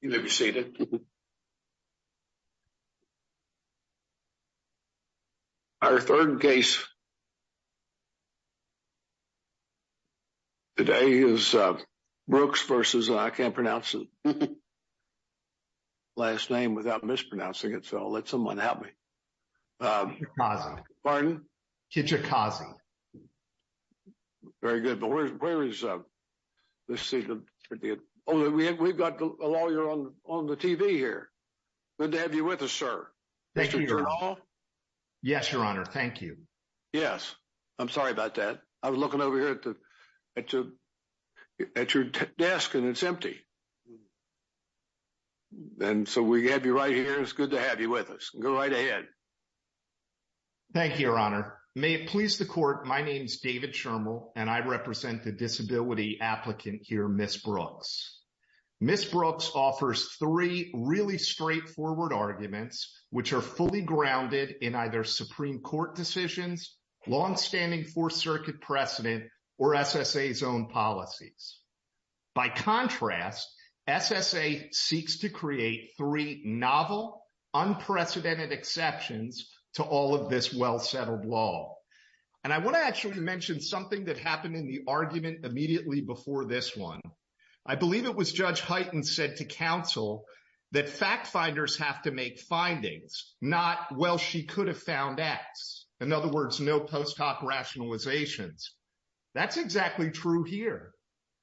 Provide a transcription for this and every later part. You may be seated. Our third case today is Brooks v. I can't pronounce his last name without mispronouncing it, so I'll let someone help me. Kijakazi. Pardon? Kijakazi. Yes, Your Honor. Very good, but where is, we've got a lawyer on the TV here. Good to have you with us, sir. Thank you, Your Honor. Mr. Terrell. Yes, Your Honor, thank you. Yes, I'm sorry about that. I was looking over here at your desk and it's empty. And so we have you right here. It's good to have you with us. Go right ahead. Thank you, Your Honor. May it please the court, my name's David Schirmel and I represent the disability applicant here, Ms. Brooks. Ms. Brooks offers three really straightforward arguments which are fully grounded in either Supreme Court decisions, longstanding Fourth Circuit precedent, or SSA's own policies. By contrast, SSA seeks to create three novel, unprecedented exceptions to all of this well-settled law. And I want to actually mention something that happened in the argument immediately before this one. I believe it was Judge Hyten said to counsel that fact finders have to make findings, not, well, she could have found X. In other words, no post hoc rationalizations. That's exactly true here.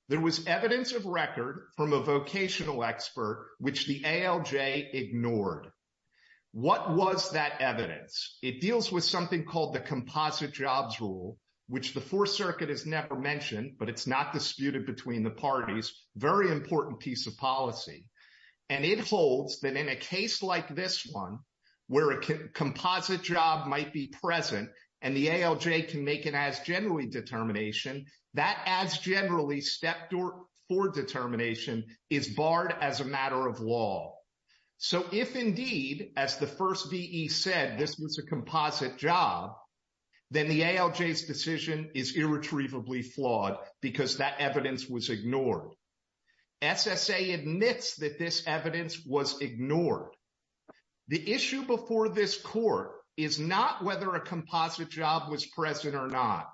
There was evidence of record from a vocational expert which the ALJ ignored. What was that evidence? It deals with something called the composite jobs rule, which the Fourth Circuit has never mentioned, but it's not disputed between the parties. Very important piece of policy. And it holds that in a case like this one, where a composite job might be present and the ALJ can make an as-generally determination, that as-generally step for determination is barred as a matter of law. So if indeed, as the first VE said, this was a composite job, then the ALJ's decision is irretrievably flawed because that evidence was ignored. SSA admits that this evidence was ignored. The issue before this court is not whether a composite job was present or not.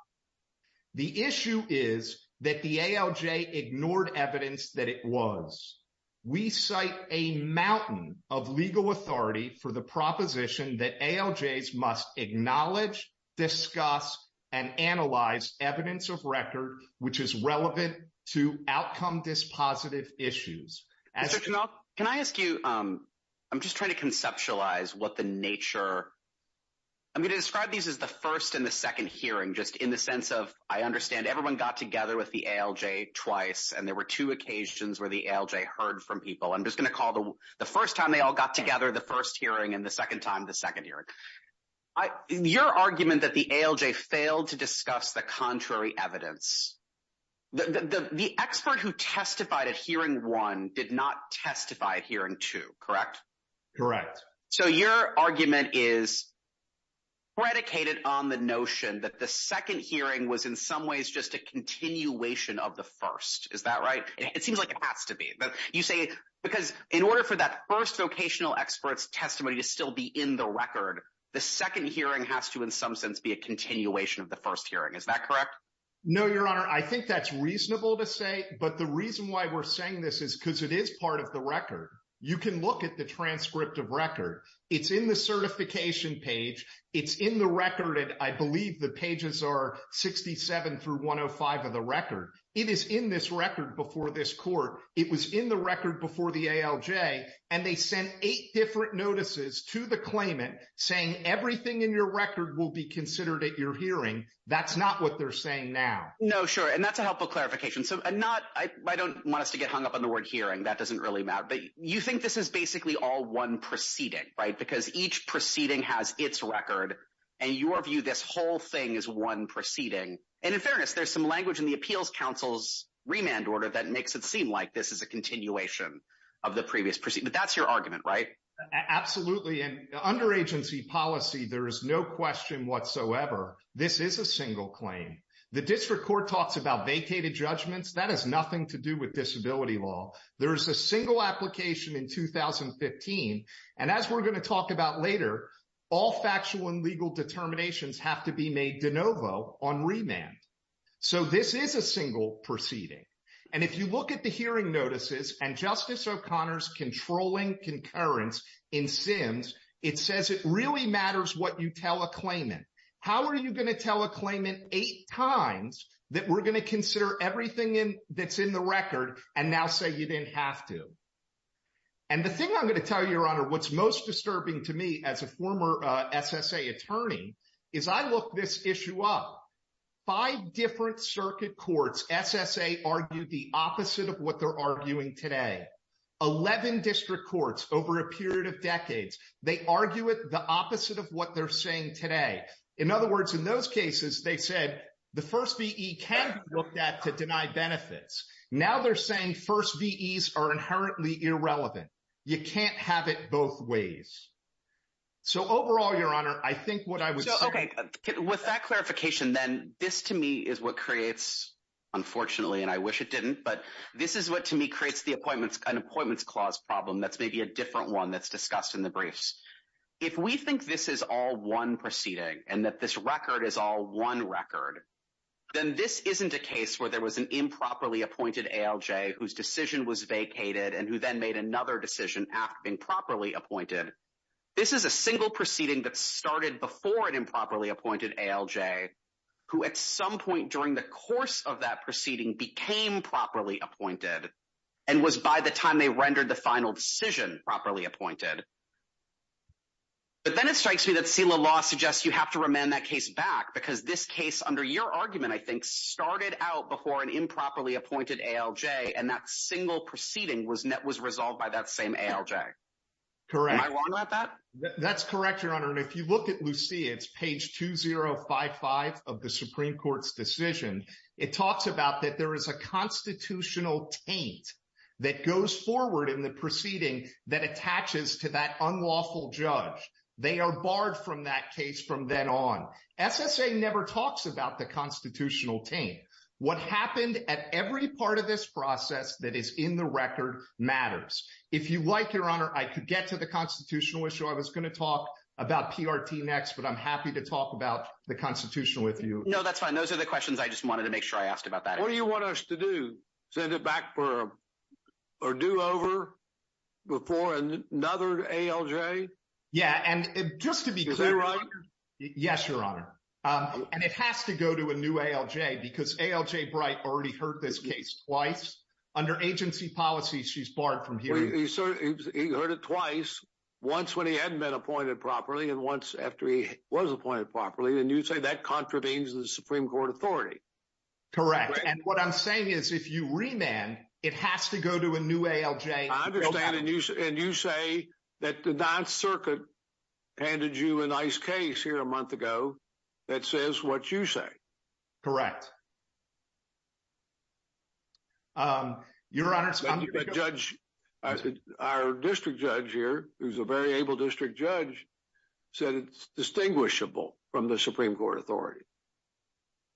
The issue is that the ALJ ignored evidence that it was. We cite a mountain of legal authority for the proposition that ALJs must acknowledge, discuss, and analyze evidence of record, which is relevant to outcome-dispositive issues. As of now, can I ask you, I'm just trying to conceptualize what the nature, I'm going to describe these as the first and the second hearing, just in the sense of, I understand everyone got together with the ALJ twice, and there were two occasions where the ALJ heard from people. I'm just going to call the first time they all got together the first hearing and the second time the second hearing. Your argument that the ALJ failed to discuss the contrary evidence, the expert who testified at hearing one did not testify at hearing two, correct? Correct. So, your argument is predicated on the notion that the second hearing was in some ways just a continuation of the first. Is that right? It seems like it has to be. You say, because in order for that first vocational expert's testimony to still be in the record, the second hearing has to, in some sense, be a continuation of the first hearing. Is that correct? No, Your Honor. I think that's reasonable to say, but the reason why we're saying this is because it is part of the record. You can look at the transcript of record. It's in the certification page. It's in the record, and I believe the pages are 67 through 105 of the record. It is in this record before this court. It was in the record before the will be considered at your hearing. That's not what they're saying now. No, sure, and that's a helpful clarification. So, I don't want us to get hung up on the word hearing. That doesn't really matter, but you think this is basically all one proceeding, right? Because each proceeding has its record, and your view, this whole thing is one proceeding. And in fairness, there's some language in the Appeals Council's remand order that makes it seem like this is a continuation of the previous proceeding, but that's your argument, right? Absolutely, and under agency policy, there is no question whatsoever this is a single claim. The district court talks about vacated judgments. That has nothing to do with disability law. There is a single application in 2015, and as we're going to talk about later, all factual and legal determinations have to be made de novo on remand. So, this is a single proceeding, and if you look at the hearing notices and Justice O'Connor's controlling concurrence in Sims, it says it really matters what you tell a claimant. How are you going to tell a claimant eight times that we're going to consider everything that's in the record and now say you didn't have to? And the thing I'm going to tell you, Your Honor, what's most disturbing to me as a former SSA attorney is I look this issue up. Five different circuit courts, SSA, argued the opposite of what they're arguing today. Eleven district courts over a period of decades, they argue it the opposite of what they're saying today. In other words, in those cases, they said the first V.E. can be looked at to deny benefits. Now they're saying first V.Es are inherently irrelevant. You can't have it both ways. So, overall, Your Honor, I think what I would say... Unfortunately, and I wish it didn't, but this is what, to me, creates an appointments clause problem that's maybe a different one that's discussed in the briefs. If we think this is all one proceeding and that this record is all one record, then this isn't a case where there was an improperly appointed ALJ whose decision was vacated and who then made another decision after being properly appointed. This is a single proceeding that started before an improperly appointed ALJ, who at some point during the course of that proceeding became properly appointed and was, by the time they rendered the final decision, properly appointed. But then it strikes me that SELA law suggests you have to remand that case back because this case, under your argument, I think, started out before an improperly appointed ALJ and that single proceeding was resolved by that same ALJ. Am I wrong about that? That's correct, Your Honor. And if you look at Lucia, it's page 2055 of the Supreme Court's decision. It talks about that there is a constitutional taint that goes forward in the proceeding that attaches to that unlawful judge. They are barred from that case from then on. SSA never talks about the constitutional taint. What happened at every part of this process that is in the record matters. If you like, Your Honor, I could get to the constitutional issue. I was going to talk about PRT next, but I'm happy to talk about the constitutional issue with you. No, that's fine. Those are the questions I just wanted to make sure I asked about that. What do you want us to do? Send it back or do over before another ALJ? Yeah, and just to be clear... Is that right? Yes, Your Honor. And it has to go to a new ALJ because ALJ Bright already heard this case twice. Under agency policy, she's barred from hearing it. He heard it twice, once when he hadn't been appointed properly and once after he was appointed properly. And you say that contravenes the Supreme Court authority. Correct. And what I'm saying is if you remand, it has to go to a new ALJ. I understand. And you say that the 9th Circuit handed you a nice case here a month ago that says what you say. Correct. Your Honor, our district judge here, who's a very able district judge, said it's distinguishable from the Supreme Court authority.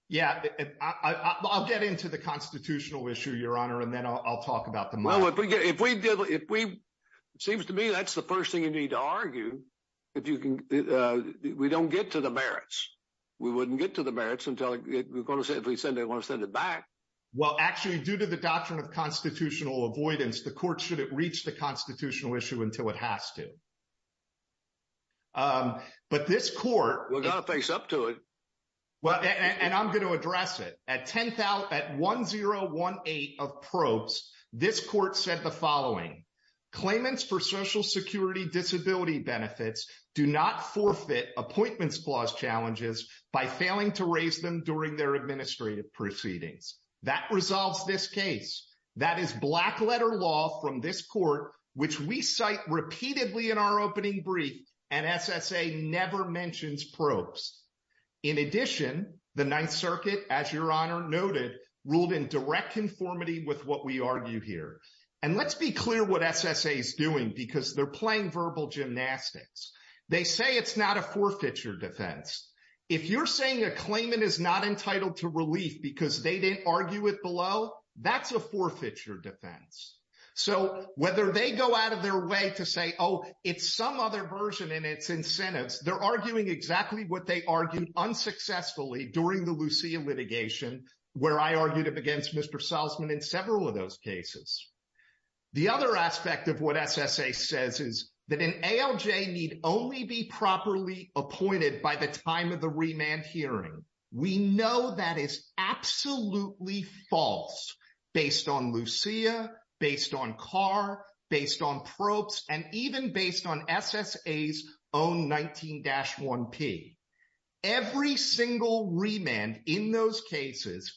Yeah, I'll get into the constitutional issue, Your Honor, and then I'll talk about the... Well, it seems to me that's the first thing you need to argue. We don't get to the merits. We wouldn't get to the merits until... We're going to send it back. Well, actually, due to the doctrine of constitutional avoidance, the court shouldn't reach the constitutional issue until it has to. But this court... We're going to face up to it. And I'm going to address it. At 1018 of probes, this court said the following, claimants for by failing to raise them during their administrative proceedings. That resolves this case. That is black letter law from this court, which we cite repeatedly in our opening brief, and SSA never mentions probes. In addition, the 9th Circuit, as Your Honor noted, ruled in direct conformity with what we argue here. And let's be clear what SSA is doing, because they're playing verbal gymnastics. They say it's not a forfeiture defense. If you're saying a claimant is not entitled to relief because they didn't argue it below, that's a forfeiture defense. So whether they go out of their way to say, oh, it's some other version in its incentives, they're arguing exactly what they argued unsuccessfully during the Lucia litigation, where I argued it against Mr. Salzman in several of those cases. The other aspect of what SSA says is that an ALJ need only be properly appointed by the time of the remand hearing. We know that is absolutely false based on Lucia, based on Carr, based on probes, and even based on SSA's own 19-1P. Every single remand in those cases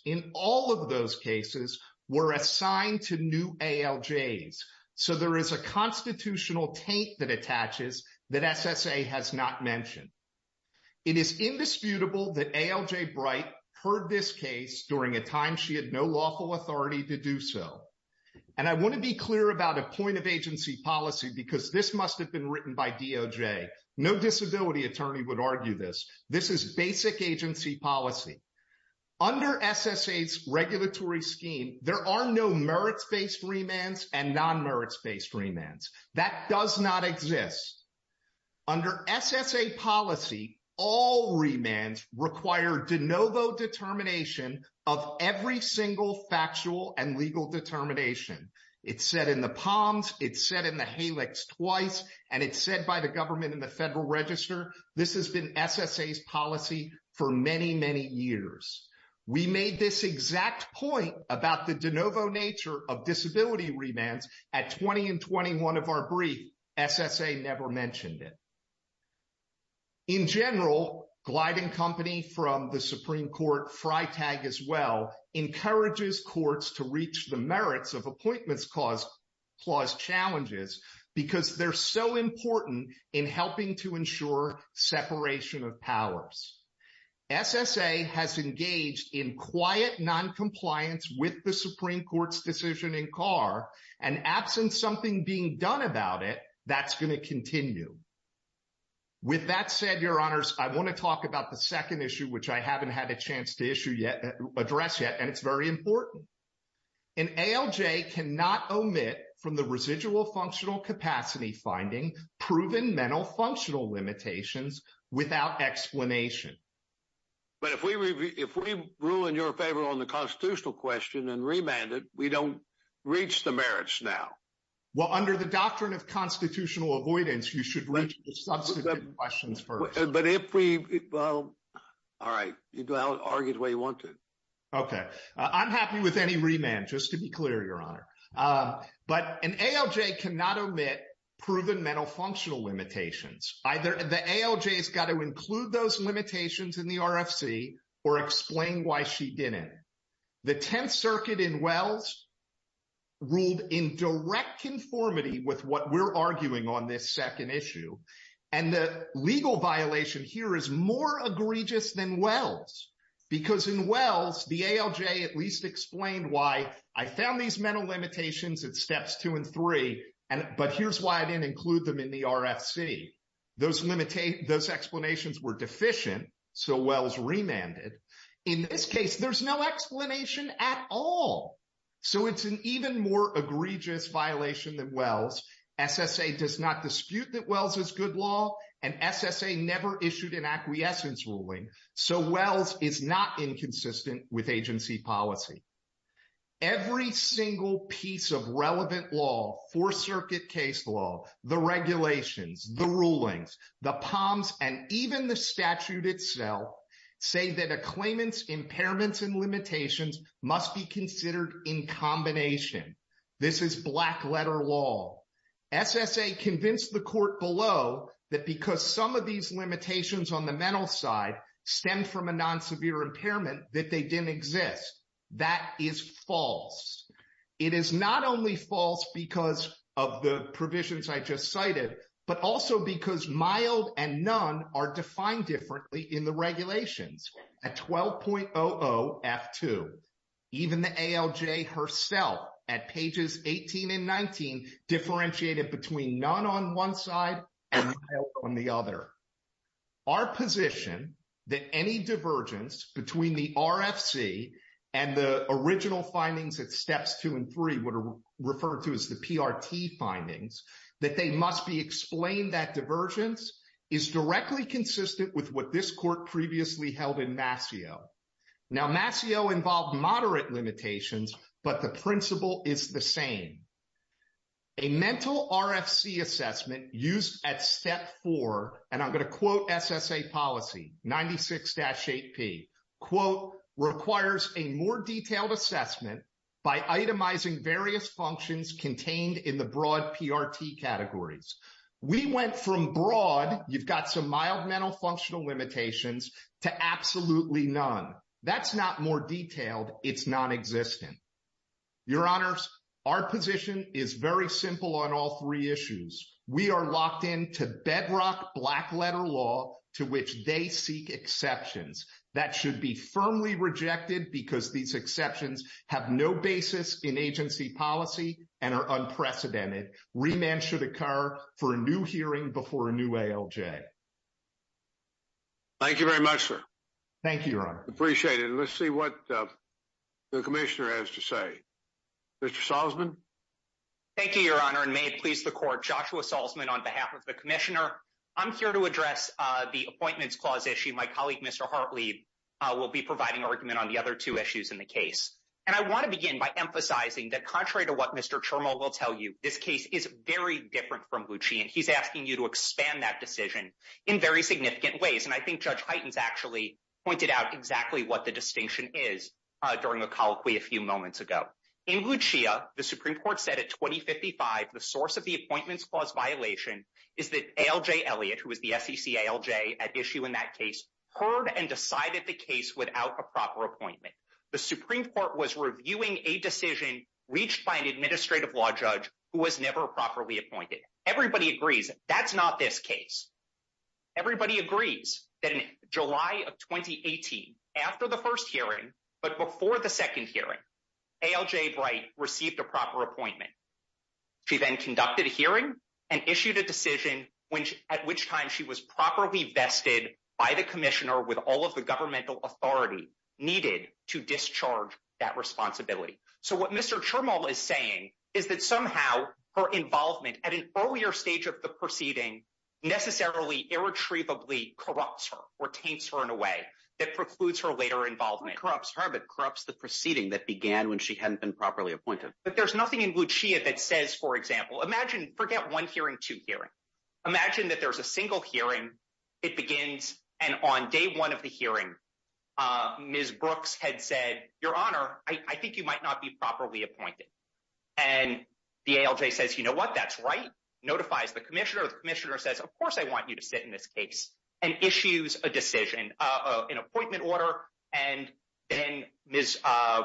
were assigned to new ALJs. So there is a constitutional taint that attaches that SSA has not mentioned. It is indisputable that ALJ Bright heard this case during a time she had no lawful authority to do so. And I want to be clear about a point of agency policy, because this must have been written by DOJ. No disability attorney would argue this. This is basic agency policy. Under SSA's regulatory scheme, there are no merits-based remands and non-merits-based remands. That does not exist. Under SSA policy, all remands require de novo determination of every single factual and legal determination. It's said in the Palms, it's said in the HALECs twice, and it's said by the government in the Federal Register. This has been SSA's policy for many, many years. We made this exact point about the de novo nature of disability remands at 20 and 21 of our brief. SSA never mentioned it. In general, Glide & Company from the Supreme Court, FriTag as well, encourages courts to reach the merits of appointments clause challenges because they're so important in helping to SSA has engaged in quiet noncompliance with the Supreme Court's decision in Carr, and absent something being done about it, that's going to continue. With that said, Your Honors, I want to talk about the second issue, which I haven't had a chance to issue yet, address yet, and it's very important. An ALJ cannot omit from the residual functional capacity finding proven mental functional limitations without explanation. But if we rule in your favor on the constitutional question and remand it, we don't reach the merits now. Well, under the doctrine of constitutional avoidance, you should reach the substantive questions first. But if we, well, all right, you can argue the way you want to. Okay. I'm happy with any remand, just to be clear, Your Honor. But an ALJ cannot omit proven mental functional limitations. Either the ALJ has got to include those limitations in the RFC or explain why she didn't. The Tenth Circuit in Wells ruled in direct conformity with what we're arguing on this second issue. And the legal violation here is more egregious than Wells because in Wells, the ALJ at least explained why I found these mental limitations at steps two and three, but here's why I didn't include them in the RFC. Those explanations were deficient, so Wells remanded. In this case, there's no explanation at all. So it's an even more egregious violation than Wells. SSA does not dispute that Wells is good law, and SSA never issued an acquiescence ruling, so Wells is not inconsistent with agency policy. Every single piece of relevant law, Fourth Circuit case law, the regulations, the rulings, the POMs, and even the statute itself say that a claimant's impairments and limitations must be considered in combination. This is black letter law. SSA convinced the court below that because some of these limitations on the mental side stem from a non-severe impairment that they didn't exist. That is false. It is not only false because of the provisions I just cited, but also because mild and none are defined differently in the regulations at 12.00 F2. Even the ALJ herself at pages 18 and 19 differentiated between none on one side and mild on the other. Our position that any divergence between the RFC and the original findings at steps two and three, what are referred to as the PRT findings, that they must be explained that divergence is directly consistent with what this court previously held in Masseo. Now, Masseo involved moderate limitations, but the principle is the same. A mental RFC assessment used at step four, and I'm going to quote SSA policy 96-8p, requires a more detailed assessment by itemizing various functions contained in the broad PRT categories. We went from broad, you've got some mild mental functional limitations, to absolutely none. That's not more detailed. It's non-existent. Your honors, our position is very simple on all three issues. We are locked into bedrock black letter law to which they seek exceptions that should be firmly rejected because these exceptions have no basis in agency policy and are unprecedented. Remand should occur for a new hearing before a new ALJ. Thank you very much, sir. Thank you, your honor. Appreciate it. Let's see what the commissioner has to say. Mr. Salzman. Thank you, your honor. And may it please the court, Joshua Salzman on behalf of the commissioner. I'm here to address the appointments clause issue. My colleague, Mr. Hartley, will be providing argument on the other two issues in the case. And I want to begin by emphasizing that contrary to what Mr. Chermo will tell you, this case is very different from Bucci. And he's asking you to expand that decision in very significant ways. I think Judge Heitens actually pointed out exactly what the distinction is during a colloquy a few moments ago. In Bucci, the Supreme Court said at 2055, the source of the appointments clause violation is that ALJ Elliott, who was the SEC ALJ at issue in that case, heard and decided the case without a proper appointment. The Supreme Court was reviewing a decision reached by an administrative law judge who was never properly appointed. Everybody agrees that's not this case. Everybody agrees that in July of 2018, after the first hearing, but before the second hearing, ALJ Bright received a proper appointment. She then conducted a hearing and issued a decision at which time she was properly vested by the commissioner with all of the governmental authority needed to discharge that responsibility. So what Mr. Chermo is saying is that somehow her involvement at an earlier stage of the hearing necessarily, irretrievably corrupts her or taints her in a way that precludes her later involvement. Not corrupts her, but corrupts the proceeding that began when she hadn't been properly appointed. But there's nothing in Bucci that says, for example, imagine, forget one hearing, two hearings. Imagine that there's a single hearing. It begins. And on day one of the hearing, Ms. Brooks had said, Your Honor, I think you might not be properly appointed. And the ALJ says, you know what, that's right, notifies the commissioner. The commissioner says, of course, I want you to sit in this case and issues a decision, an appointment order. And then Ms.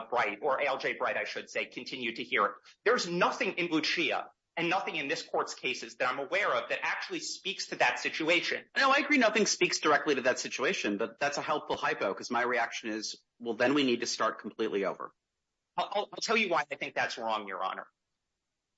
Bright, or ALJ Bright, I should say, continued to hear it. There's nothing in Bucci and nothing in this court's cases that I'm aware of that actually speaks to that situation. Now, I agree nothing speaks directly to that situation, but that's a helpful hypo because my reaction is, well, then we need to start completely over. I'll tell you why I think that's wrong, Your Honor.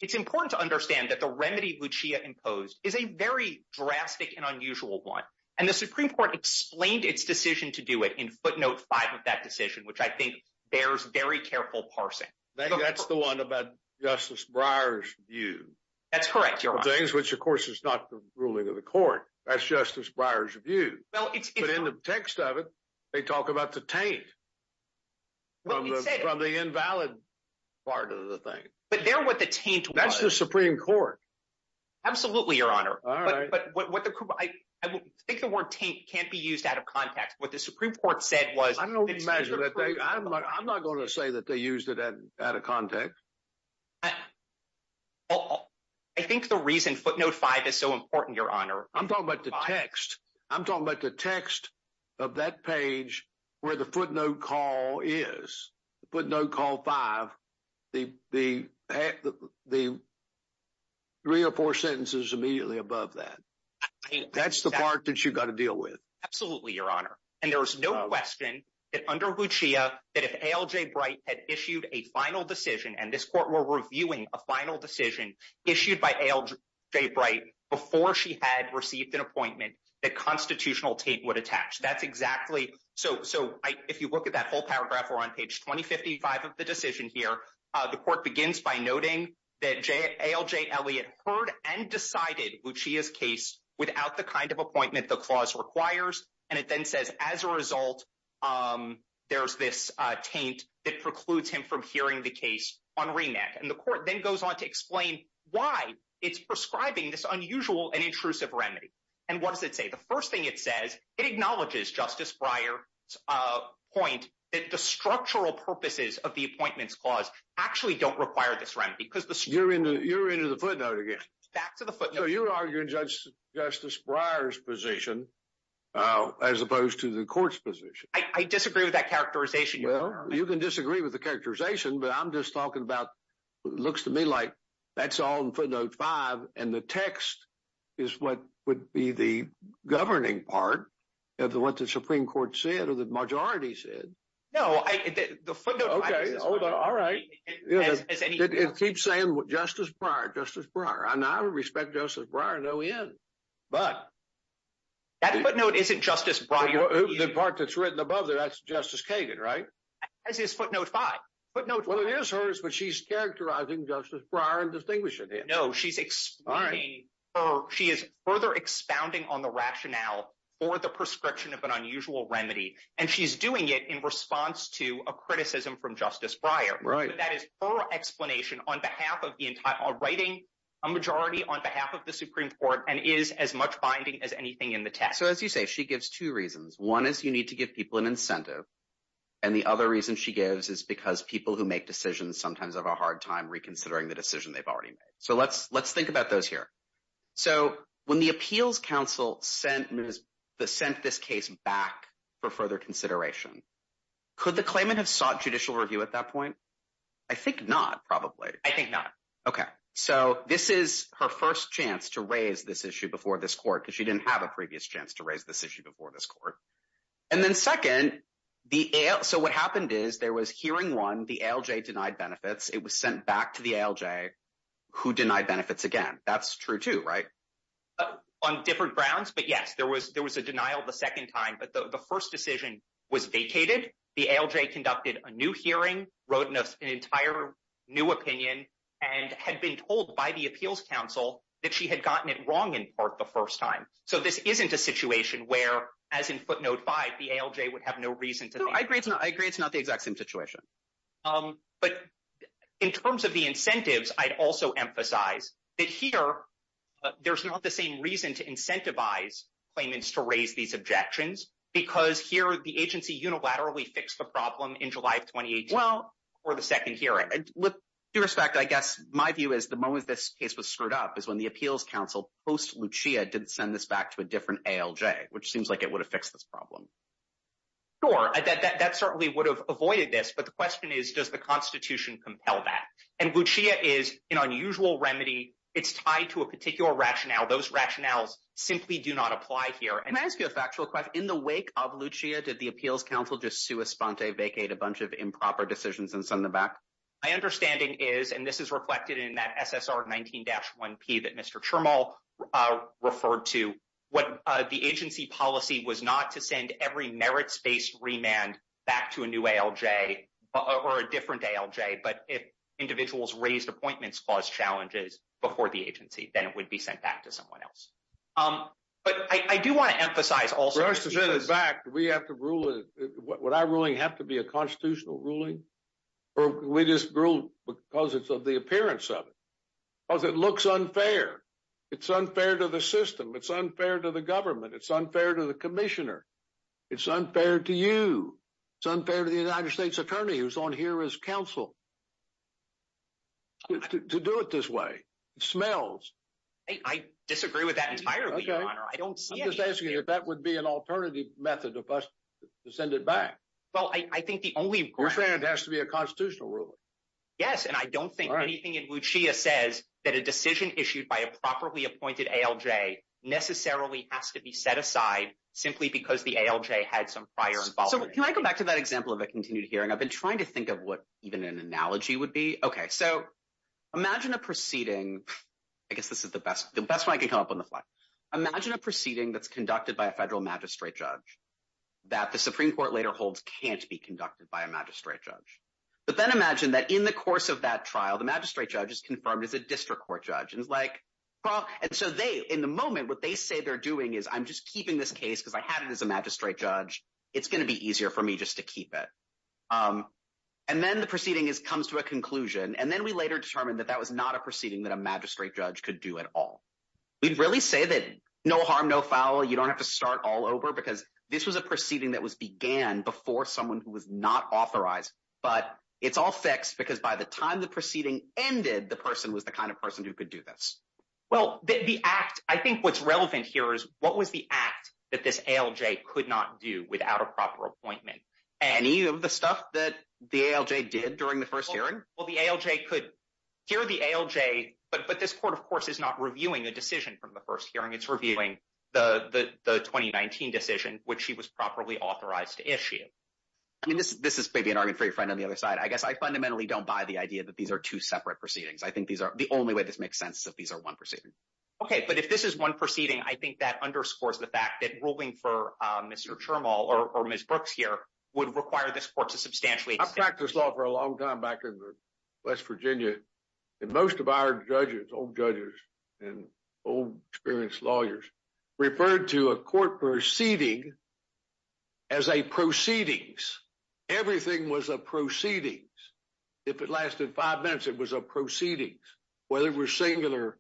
It's important to understand that the remedy Bucci imposed is a very drastic and unusual one. And the Supreme Court explained its decision to do it in footnote five of that decision, which I think bears very careful parsing. I think that's the one about Justice Breyer's view. That's correct, Your Honor. Which, of course, is not the ruling of the court. That's Justice Breyer's view. But in the text of it, they talk about the taint from the invalid part of the thing. That's the Supreme Court. Absolutely, Your Honor. I think the word taint can't be used out of context. What the Supreme Court said was- I'm not going to say that they used it out of context. I think the reason footnote five is so important, Your Honor- I'm talking about the text. I'm talking about the text of that page where the footnote call is, footnote call five. The three or four sentences immediately above that. That's the part that you've got to deal with. Absolutely, Your Honor. And there was no question that under Buccia, that if A.L.J. Bright had issued a final decision, and this court were reviewing a final decision issued by A.L.J. Bright before she had received an appointment, that constitutional taint would attach. That's exactly- If you look at that whole paragraph, we're on page 2055 of the decision here. The court begins by noting that A.L.J. Elliott heard and decided Buccia's case without the kind of appointment the clause requires. And it then says, as a result, there's this taint that precludes him from hearing the case on remand. And the court then goes on to explain why it's prescribing this unusual and intrusive remedy. And what does it say? The first thing it says, it acknowledges Justice Breyer's point that the structural purposes of the appointments clause actually don't require this remedy because the- You're into the footnote again. Back to the footnote. You're arguing Justice Breyer's position as opposed to the court's position. I disagree with that characterization, Your Honor. You can disagree with the characterization, but I'm just talking about, it looks to me like that's all in footnote five. And the text is what would be the governing part of what the Supreme Court said or the majority said. No, the footnote- Okay, hold on. All right. It keeps saying Justice Breyer, Justice Breyer. And I respect Justice Breyer to no end, but- That footnote isn't Justice Breyer. The part that's written above there, that's Justice Kagan, right? That is footnote five. Footnote five. It is hers, but she's characterizing Justice Breyer and distinguishing it. No, she's expounding, she is further expounding on the rationale for the prescription of an unusual remedy. And she's doing it in response to a criticism from Justice Breyer. Right. That is her explanation on behalf of the entire, writing a majority on behalf of the Supreme Court and is as much binding as anything in the text. So as you say, she gives two reasons. One is you need to give people an incentive. And the other reason she gives is because people who make decisions sometimes have a hard time reconsidering the decision they've already made. So let's think about those here. So when the Appeals Council sent this case back for further consideration, could the claimant have sought judicial review at that point? I think not, probably. I think not. Okay. So this is her first chance to raise this issue before this court, because she didn't have a previous chance to raise this issue before this court. And then second, so what happened is there was hearing one, the ALJ denied benefits. It was sent back to the ALJ, who denied benefits again. That's true too, right? On different grounds. But yes, there was a denial the second time. But the first decision was vacated. The ALJ conducted a new hearing, wrote an entire new opinion, and had been told by the Appeals Council that she had gotten it wrong in part the first time. So this isn't a situation where, as in footnote five, the ALJ would have no reason to think. No, I agree it's not the exact same situation. But in terms of the incentives, I'd also emphasize that here, there's not the same reason to incentivize claimants to raise these objections, because here the agency unilaterally fixed the problem in July of 2018 before the second hearing. With due respect, I guess my view is the moment this case was screwed up is when the to a different ALJ, which seems like it would have fixed this problem. Sure, that certainly would have avoided this. But the question is, does the Constitution compel that? And LUCEA is an unusual remedy. It's tied to a particular rationale. Those rationales simply do not apply here. And I ask you a factual question. In the wake of LUCEA, did the Appeals Council just sui sponte, vacate a bunch of improper decisions and send them back? My understanding is, and this is reflected in that SSR 19-1P that Mr. Chermol referred to, what the agency policy was not to send every merits-based remand back to a new ALJ or a different ALJ. But if individuals raised appointments, caused challenges before the agency, then it would be sent back to someone else. But I do want to emphasize also- First, to set it back, do we have to rule it, would our ruling have to be a constitutional ruling, or we just rule because it's of the appearance of it? Because it looks unfair. It's unfair to the system. It's unfair to the government. It's unfair to the commissioner. It's unfair to you. It's unfair to the United States Attorney, who's on here as counsel, to do it this way. It smells. I disagree with that entirely, Your Honor. I don't see any- I'm just asking if that would be an alternative method of us to send it back. Well, I think the only- You're saying it has to be a constitutional ruling. Yes, and I don't think anything in Lucia says that a decision issued by a properly appointed ALJ necessarily has to be set aside simply because the ALJ had some prior involvement. So can I go back to that example of a continued hearing? I've been trying to think of what even an analogy would be. Okay, so imagine a proceeding- I guess this is the best one I can come up with on the fly. Imagine a proceeding that's conducted by a federal magistrate judge that the Supreme Court later holds can't be conducted by a magistrate judge. But then imagine that in the course of that trial, the magistrate judge is confirmed as a district court judge. And it's like, well- And so they, in the moment, what they say they're doing is, I'm just keeping this case because I had it as a magistrate judge. It's going to be easier for me just to keep it. And then the proceeding comes to a conclusion. And then we later determined that that was not a proceeding that a magistrate judge could do at all. We'd really say that no harm, no foul. You don't have to start all over because this was a proceeding that began before someone who was not authorized. But it's all fixed because by the time the proceeding ended, the person was the kind of person who could do this. Well, the act- I think what's relevant here is, what was the act that this ALJ could not do without a proper appointment? Any of the stuff that the ALJ did during the first hearing? Well, the ALJ could- here the ALJ- but this court, of course, is not reviewing a decision from the first hearing. It's reviewing the 2019 decision, which he was properly authorized to issue. This is maybe an argument for your friend on the other side. I guess I fundamentally don't buy the idea that these are two separate proceedings. I think these are- the only way this makes sense is if these are one proceeding. OK, but if this is one proceeding, I think that underscores the fact that ruling for Mr. Chermol or Ms. Brooks here would require this court to substantially- I practiced law for a long time back in West Virginia. Most of our judges, old judges and old, experienced lawyers, referred to a court proceeding as a proceedings. Everything was a proceedings. If it lasted five minutes, it was a proceedings. Whether it was singular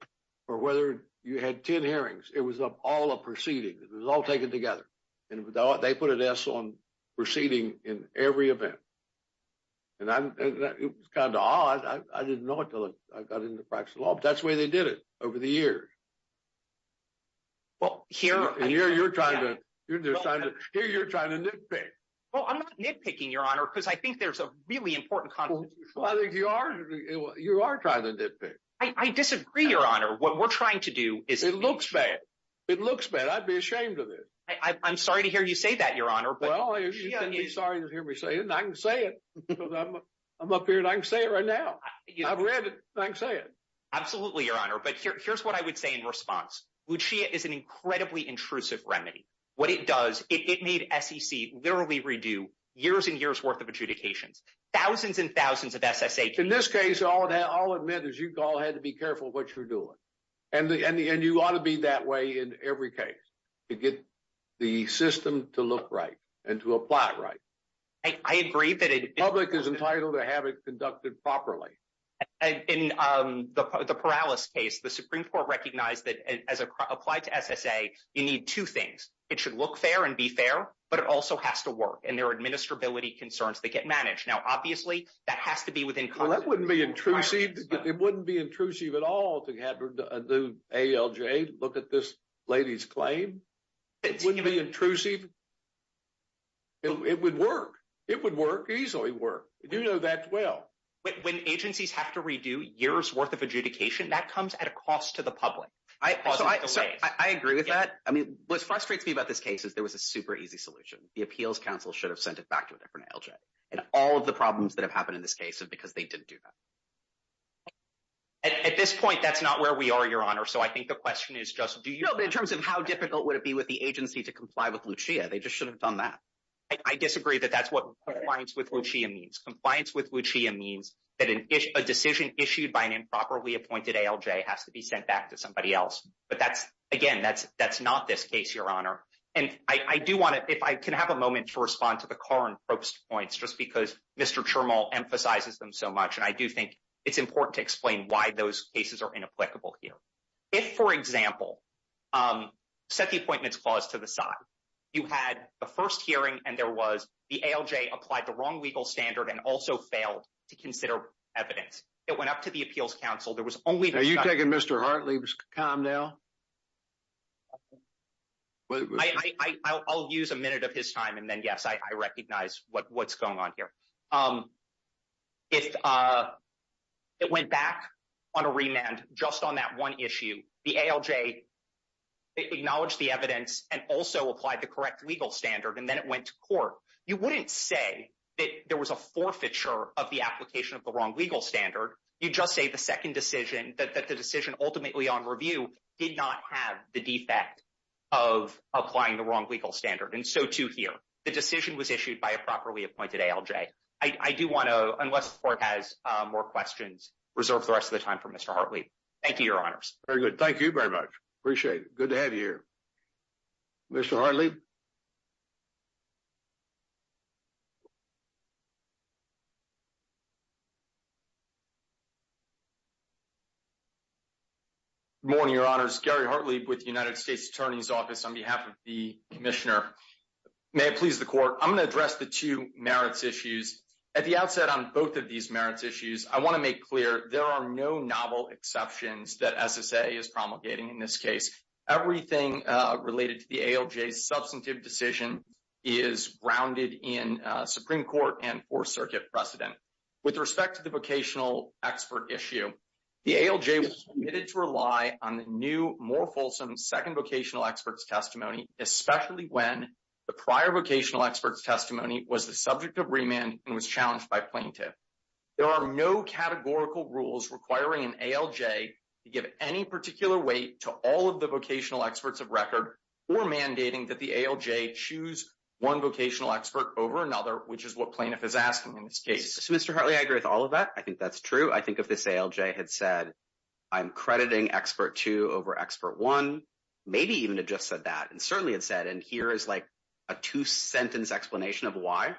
or whether you had 10 hearings, it was all a proceeding. It was all taken together. And they put an S on proceeding in every event. And it was kind of odd. I didn't know it until I got into the practice of law, but that's the way they did it over the years. Well, here- And here you're trying to nitpick. Well, I'm not nitpicking, Your Honor, because I think there's a really important- Well, I think you are trying to nitpick. I disagree, Your Honor. What we're trying to do is- It looks bad. It looks bad. I'd be ashamed of it. I'm sorry to hear you say that, Your Honor. Well, you shouldn't be sorry to hear me say it. And I can say it. I'm up here and I can say it right now. I've read it. I can say it. Absolutely, Your Honor. But here's what I would say in response. Lucia is an incredibly intrusive remedy. What it does, it made SEC literally redo years and years worth of adjudications. Thousands and thousands of SSA cases- In this case, all it meant is you all had to be careful what you're doing. And you ought to be that way in every case to get the system to look right and to apply it right. I agree that it- The public is entitled to have it conducted properly. In the Paralys case, the Supreme Court recognized that as it applied to SSA, you need two things. It should look fair and be fair, but it also has to work. And there are administrability concerns that get managed. Now, obviously, that has to be within- Well, that wouldn't be intrusive. It wouldn't be intrusive at all to have a new ALJ look at this lady's claim. It wouldn't be intrusive. It would work. It would work, easily work. You know that well. When agencies have to redo years' worth of adjudication, that comes at a cost to the public. I agree with that. I mean, what frustrates me about this case is there was a super easy solution. The Appeals Council should have sent it back to a different ALJ. And all of the problems that have happened in this case is because they didn't do that. At this point, that's not where we are, Your Honor. So I think the question is just, do you- But in terms of how difficult would it be with the agency to comply with Lucia, they just should have done that. I disagree that that's what compliance with Lucia means. Compliance with Lucia means that a decision issued by an improperly appointed ALJ has to be sent back to somebody else. But that's- Again, that's not this case, Your Honor. And I do want to- If I can have a moment to respond to the Corrin Probst points, just because Mr. Chermol emphasizes them so much. And I do think it's important to explain why those cases are inapplicable here. If, for example, set the Appointments Clause to the side. You had the first hearing and there was- ALJ applied the wrong legal standard and also failed to consider evidence. It went up to the Appeals Council. There was only- Are you taking Mr. Hartley's time now? I'll use a minute of his time and then, yes, I recognize what's going on here. It went back on a remand just on that one issue. The ALJ acknowledged the evidence and also applied the correct legal standard. And then it went to court. You wouldn't say that there was a forfeiture of the application of the wrong legal standard. You just say the second decision, that the decision ultimately on review did not have the defect of applying the wrong legal standard. And so, too, here. The decision was issued by a properly appointed ALJ. I do want to, unless the Court has more questions, reserve the rest of the time for Mr. Hartley. Thank you, Your Honors. Very good. Thank you very much. Appreciate it. Good to have you here. Mr. Hartley? Good morning, Your Honors. Gary Hartley with the United States Attorney's Office on behalf of the Commissioner. May it please the Court. I'm going to address the two merits issues. At the outset on both of these merits issues, I want to make clear there are no novel exceptions that SSA is promulgating in this case. Everything related to the ALJ's substantive decision is grounded in Supreme Court and Fourth Circuit precedent. With respect to the vocational expert issue, the ALJ was committed to rely on the new, more fulsome second vocational expert's testimony, especially when the prior vocational expert's testimony was the subject of remand and was challenged by plaintiff. There are no categorical rules requiring an ALJ to give any particular weight to all of the vocational experts of record or mandating that the ALJ choose one vocational expert over another, which is what plaintiff is asking in this case. So, Mr. Hartley, I agree with all of that. I think that's true. I think if this ALJ had said, I'm crediting expert two over expert one, maybe even had just said that, and certainly had said, and here is like a two-sentence explanation of why,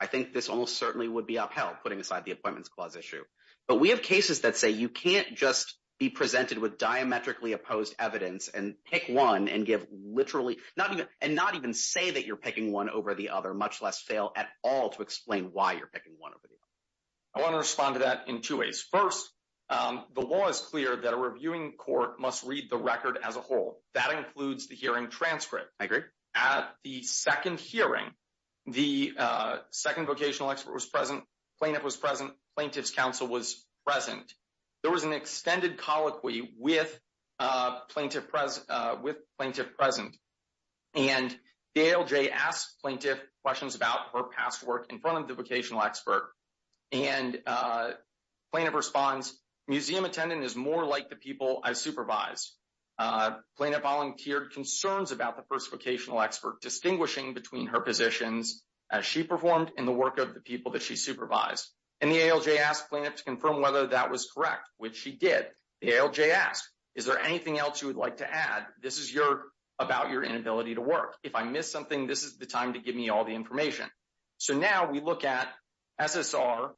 I think this almost certainly would be upheld, putting aside the Appointments Clause issue. But we have cases that say you can't just be presented with diametrically opposed evidence and pick one and not even say that you're picking one over the other, much less fail at all to explain why you're picking one over the other. I want to respond to that in two ways. First, the law is clear that a reviewing court must read the record as a whole. That includes the hearing transcript. I agree. At the second hearing, the second vocational expert was present, plaintiff was present, plaintiff's counsel was present. There was an extended colloquy with plaintiff present. And the ALJ asked plaintiff questions about her past work in front of the vocational expert. And plaintiff responds, museum attendant is more like the people I supervised. Plaintiff volunteered concerns about the first vocational expert, distinguishing between her positions as she performed in the work of the people that she supervised. And the ALJ asked plaintiff to confirm whether that was correct, which she did. The ALJ asked, is there anything else you would like to add? This is about your inability to work. If I miss something, this is the time to give me all the information. So now we look at SSR,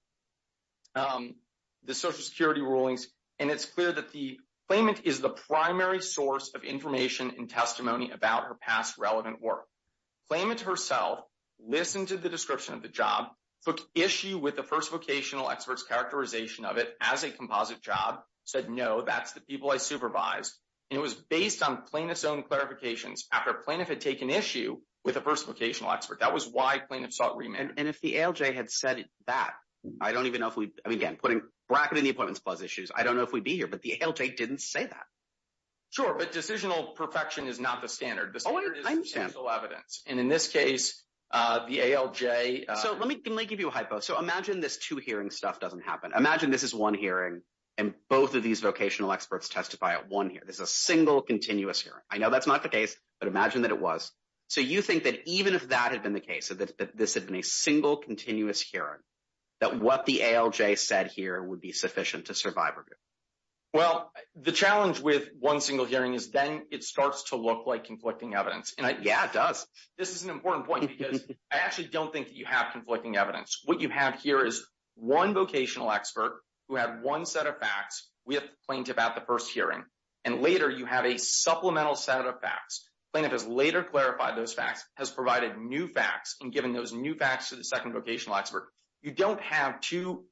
the Social Security rulings, and it's clear that the claimant is the primary source of information and testimony about her past relevant work. Claimant herself listened to the description of the job, took issue with the first vocational expert's characterization of it as a composite job, said, no, that's the people I supervised. And it was based on plaintiff's own clarifications after plaintiff had taken issue with the first vocational expert. That was why plaintiff sought remand. And if the ALJ had said that, I don't even know if we, I mean, again, putting bracket in the appointments clause issues, I don't know if we'd be here, but the ALJ didn't say that. Sure, but decisional perfection is not the standard. I understand. And in this case, the ALJ. So let me give you a hypo. So imagine this two hearing stuff doesn't happen. Imagine this is one hearing and both of these vocational experts testify at one here. There's a single continuous hearing. I know that's not the case, but imagine that it was. So you think that even if that had been the case, that this had been a single continuous hearing, that what the ALJ said here would be sufficient to survive review? Well, the challenge with one single hearing is then it starts to look like conflicting evidence. And yeah, it does. This is an important point because I actually don't think that you have conflicting evidence. What you have here is one vocational expert who had one set of facts with plaintiff at the first hearing. And later, you have a supplemental set of facts. Plaintiff has later clarified those facts, has provided new facts, and given those new facts to the second vocational expert. You don't have two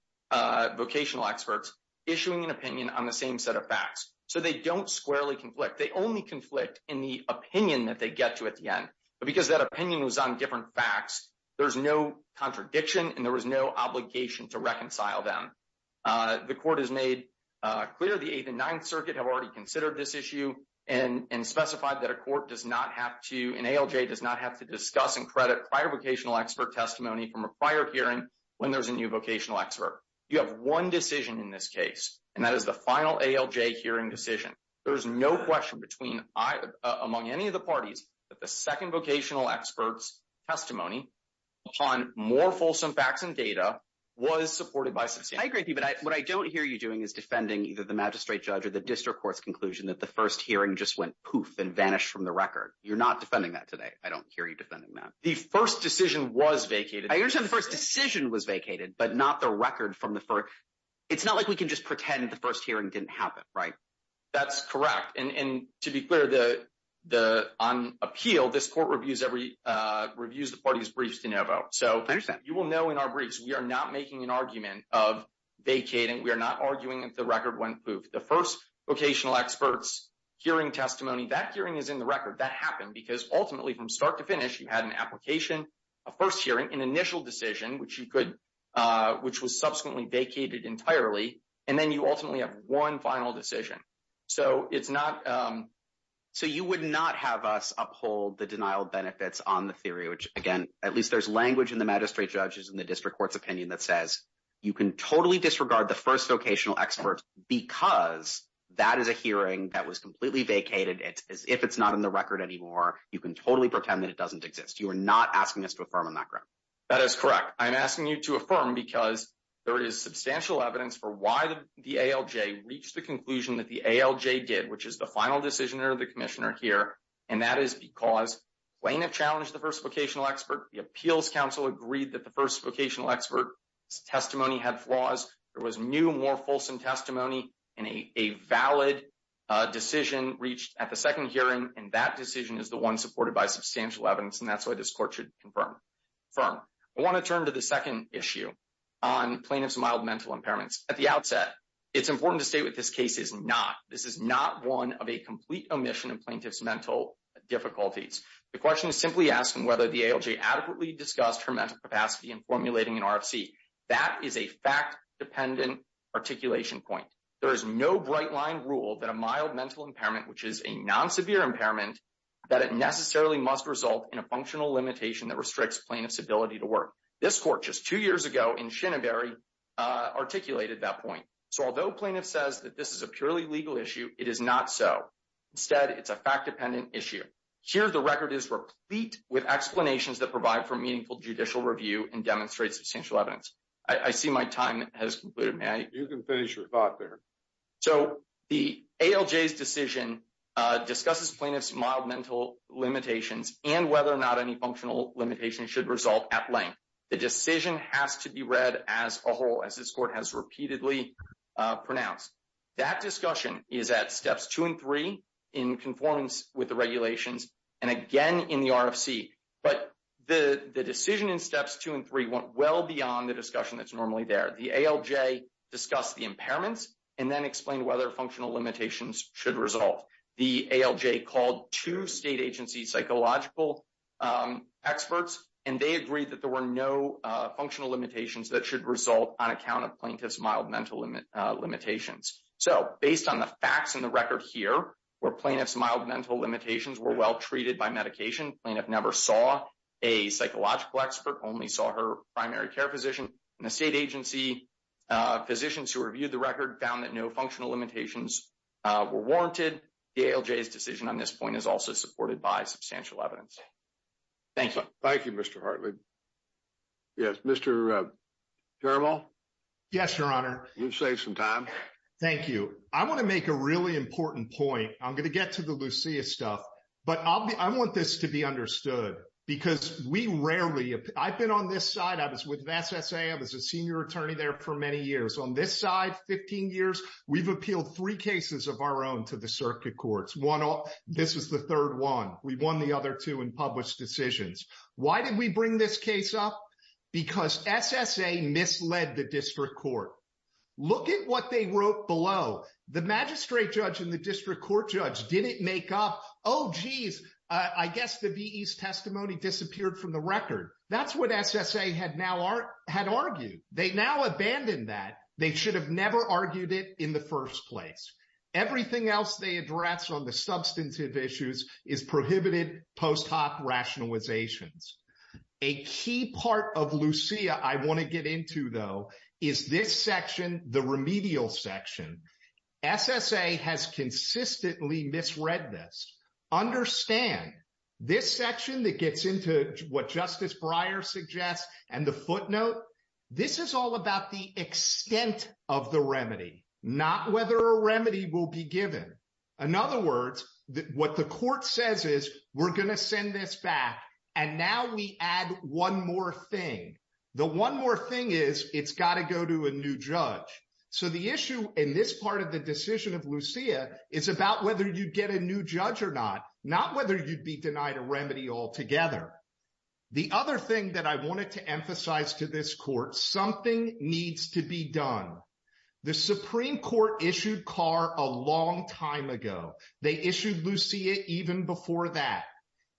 vocational experts issuing an opinion on the same set of facts. So they don't squarely conflict. They only conflict in the opinion that they get to at the end. But because that opinion was on different facts, there's no contradiction and there was no obligation to reconcile them. The court has made clear the Eighth and Ninth Circuit have already considered this issue and specified that a court does not have to, an ALJ does not have to discuss and credit prior vocational expert testimony from a prior hearing when there's a new vocational expert. You have one decision in this case, and that is the final ALJ hearing decision. There's no question among any of the parties that the second vocational expert's testimony on more fulsome facts and data was supported by substantive evidence. I agree with you, but what I don't hear you doing is defending either the magistrate judge or the district court's conclusion that the first hearing just went poof and vanished from the record. You're not defending that today. I don't hear you defending that. The first decision was vacated. I understand the first decision was vacated, but not the record from the first. It's not like we can just pretend the first hearing didn't happen, right? That's correct. And to be clear, on appeal, this court reviews the parties' briefs de novo. So you will know in our briefs, we are not making an argument of vacating. We are not arguing that the record went poof. That happened because, ultimately, from start to finish, you had an application, a first hearing, an initial decision, which was subsequently vacated entirely, and then you ultimately have one final decision. So you would not have us uphold the denial of benefits on the theory, which, again, at least there's language in the magistrate judge's and the district court's opinion that says you can totally disregard the first vocational expert because that is a hearing that was You can totally pretend that it doesn't exist. You are not asking us to affirm on that ground. That is correct. I'm asking you to affirm because there is substantial evidence for why the ALJ reached the conclusion that the ALJ did, which is the final decision of the commissioner here, and that is because Plain have challenged the first vocational expert. The appeals council agreed that the first vocational expert's testimony had flaws. There was new, more fulsome testimony, and a valid decision reached at the second hearing, and that decision is the one supported by substantial evidence, and that's why this court should confirm. I want to turn to the second issue on plaintiff's mild mental impairments. At the outset, it's important to state what this case is not. This is not one of a complete omission of plaintiff's mental difficulties. The question is simply asking whether the ALJ adequately discussed her mental capacity in formulating an RFC. That is a fact-dependent articulation point. There is no bright-line rule that a mild mental impairment, which is a non-severe impairment, that it necessarily must result in a functional limitation that restricts plaintiff's ability to work. This court just two years ago in Shinnebury articulated that point. So although plaintiff says that this is a purely legal issue, it is not so. Instead, it's a fact-dependent issue. Here, the record is replete with explanations that provide for meaningful judicial review and demonstrate substantial evidence. I see my time has concluded. You can finish your thought there. So the ALJ's decision discusses plaintiff's mild mental limitations and whether or not any functional limitation should result at length. The decision has to be read as a whole, as this court has repeatedly pronounced. That discussion is at steps two and three in conformance with the regulations and again in the RFC. But the decision in steps two and three went well beyond the discussion that's normally there. The ALJ discussed the impairments and then explained whether functional limitations should result. The ALJ called two state agency psychological experts, and they agreed that there were no functional limitations that should result on account of plaintiff's mild mental limitations. So based on the facts in the record here, where plaintiff's mild mental limitations were well treated by medication, plaintiff never saw a psychological expert, only saw her primary care physician. And the state agency physicians who reviewed the record found that no functional limitations were warranted. The ALJ's decision on this point is also supported by substantial evidence. Thank you. Thank you, Mr. Hartley. Yes, Mr. Caramel? Yes, Your Honor. You've saved some time. Thank you. I want to make a really important point. I'm going to get to the Lucia stuff, but I want this to be understood because we rarely, I've been on this side. I was with the SSA. I was a senior attorney there for many years. On this side, 15 years, we've appealed three cases of our own to the circuit courts. This is the third one. We won the other two in published decisions. Why did we bring this case up? Because SSA misled the district court. Look at what they wrote below. The magistrate judge and the district court judge didn't make up, oh, jeez, I guess the testimony disappeared from the record. That's what SSA had argued. They now abandoned that. They should have never argued it in the first place. Everything else they address on the substantive issues is prohibited post hoc rationalizations. A key part of Lucia I want to get into, though, is this section, the remedial section. SSA has consistently misread this. Understand, this section that gets into what Justice Breyer suggests and the footnote, this is all about the extent of the remedy, not whether a remedy will be given. In other words, what the court says is we're going to send this back and now we add one more thing. The one more thing is it's got to go to a new judge. So the issue in this part of the decision of Lucia is about whether you get a new judge or not, not whether you'd be denied a remedy altogether. The other thing that I wanted to emphasize to this court, something needs to be done. The Supreme Court issued Carr a long time ago. They issued Lucia even before that.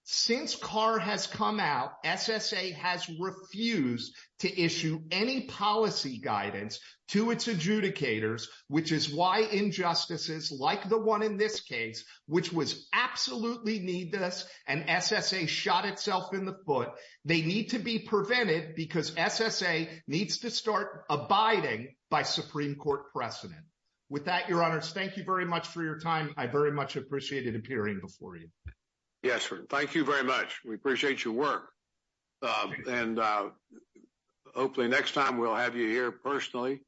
Since Carr has come out, SSA has refused to issue any policy guidance to its adjudicators, which is why injustices like the one in this case, which was absolutely needless, and SSA shot itself in the foot. They need to be prevented because SSA needs to start abiding by Supreme Court precedent. With that, Your Honors, thank you very much for your time. I very much appreciated appearing before you. Yes, sir. Thank you very much. We appreciate your work. And hopefully next time we'll have you here personally.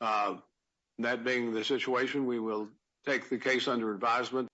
That being the situation, we will take the case under advisement.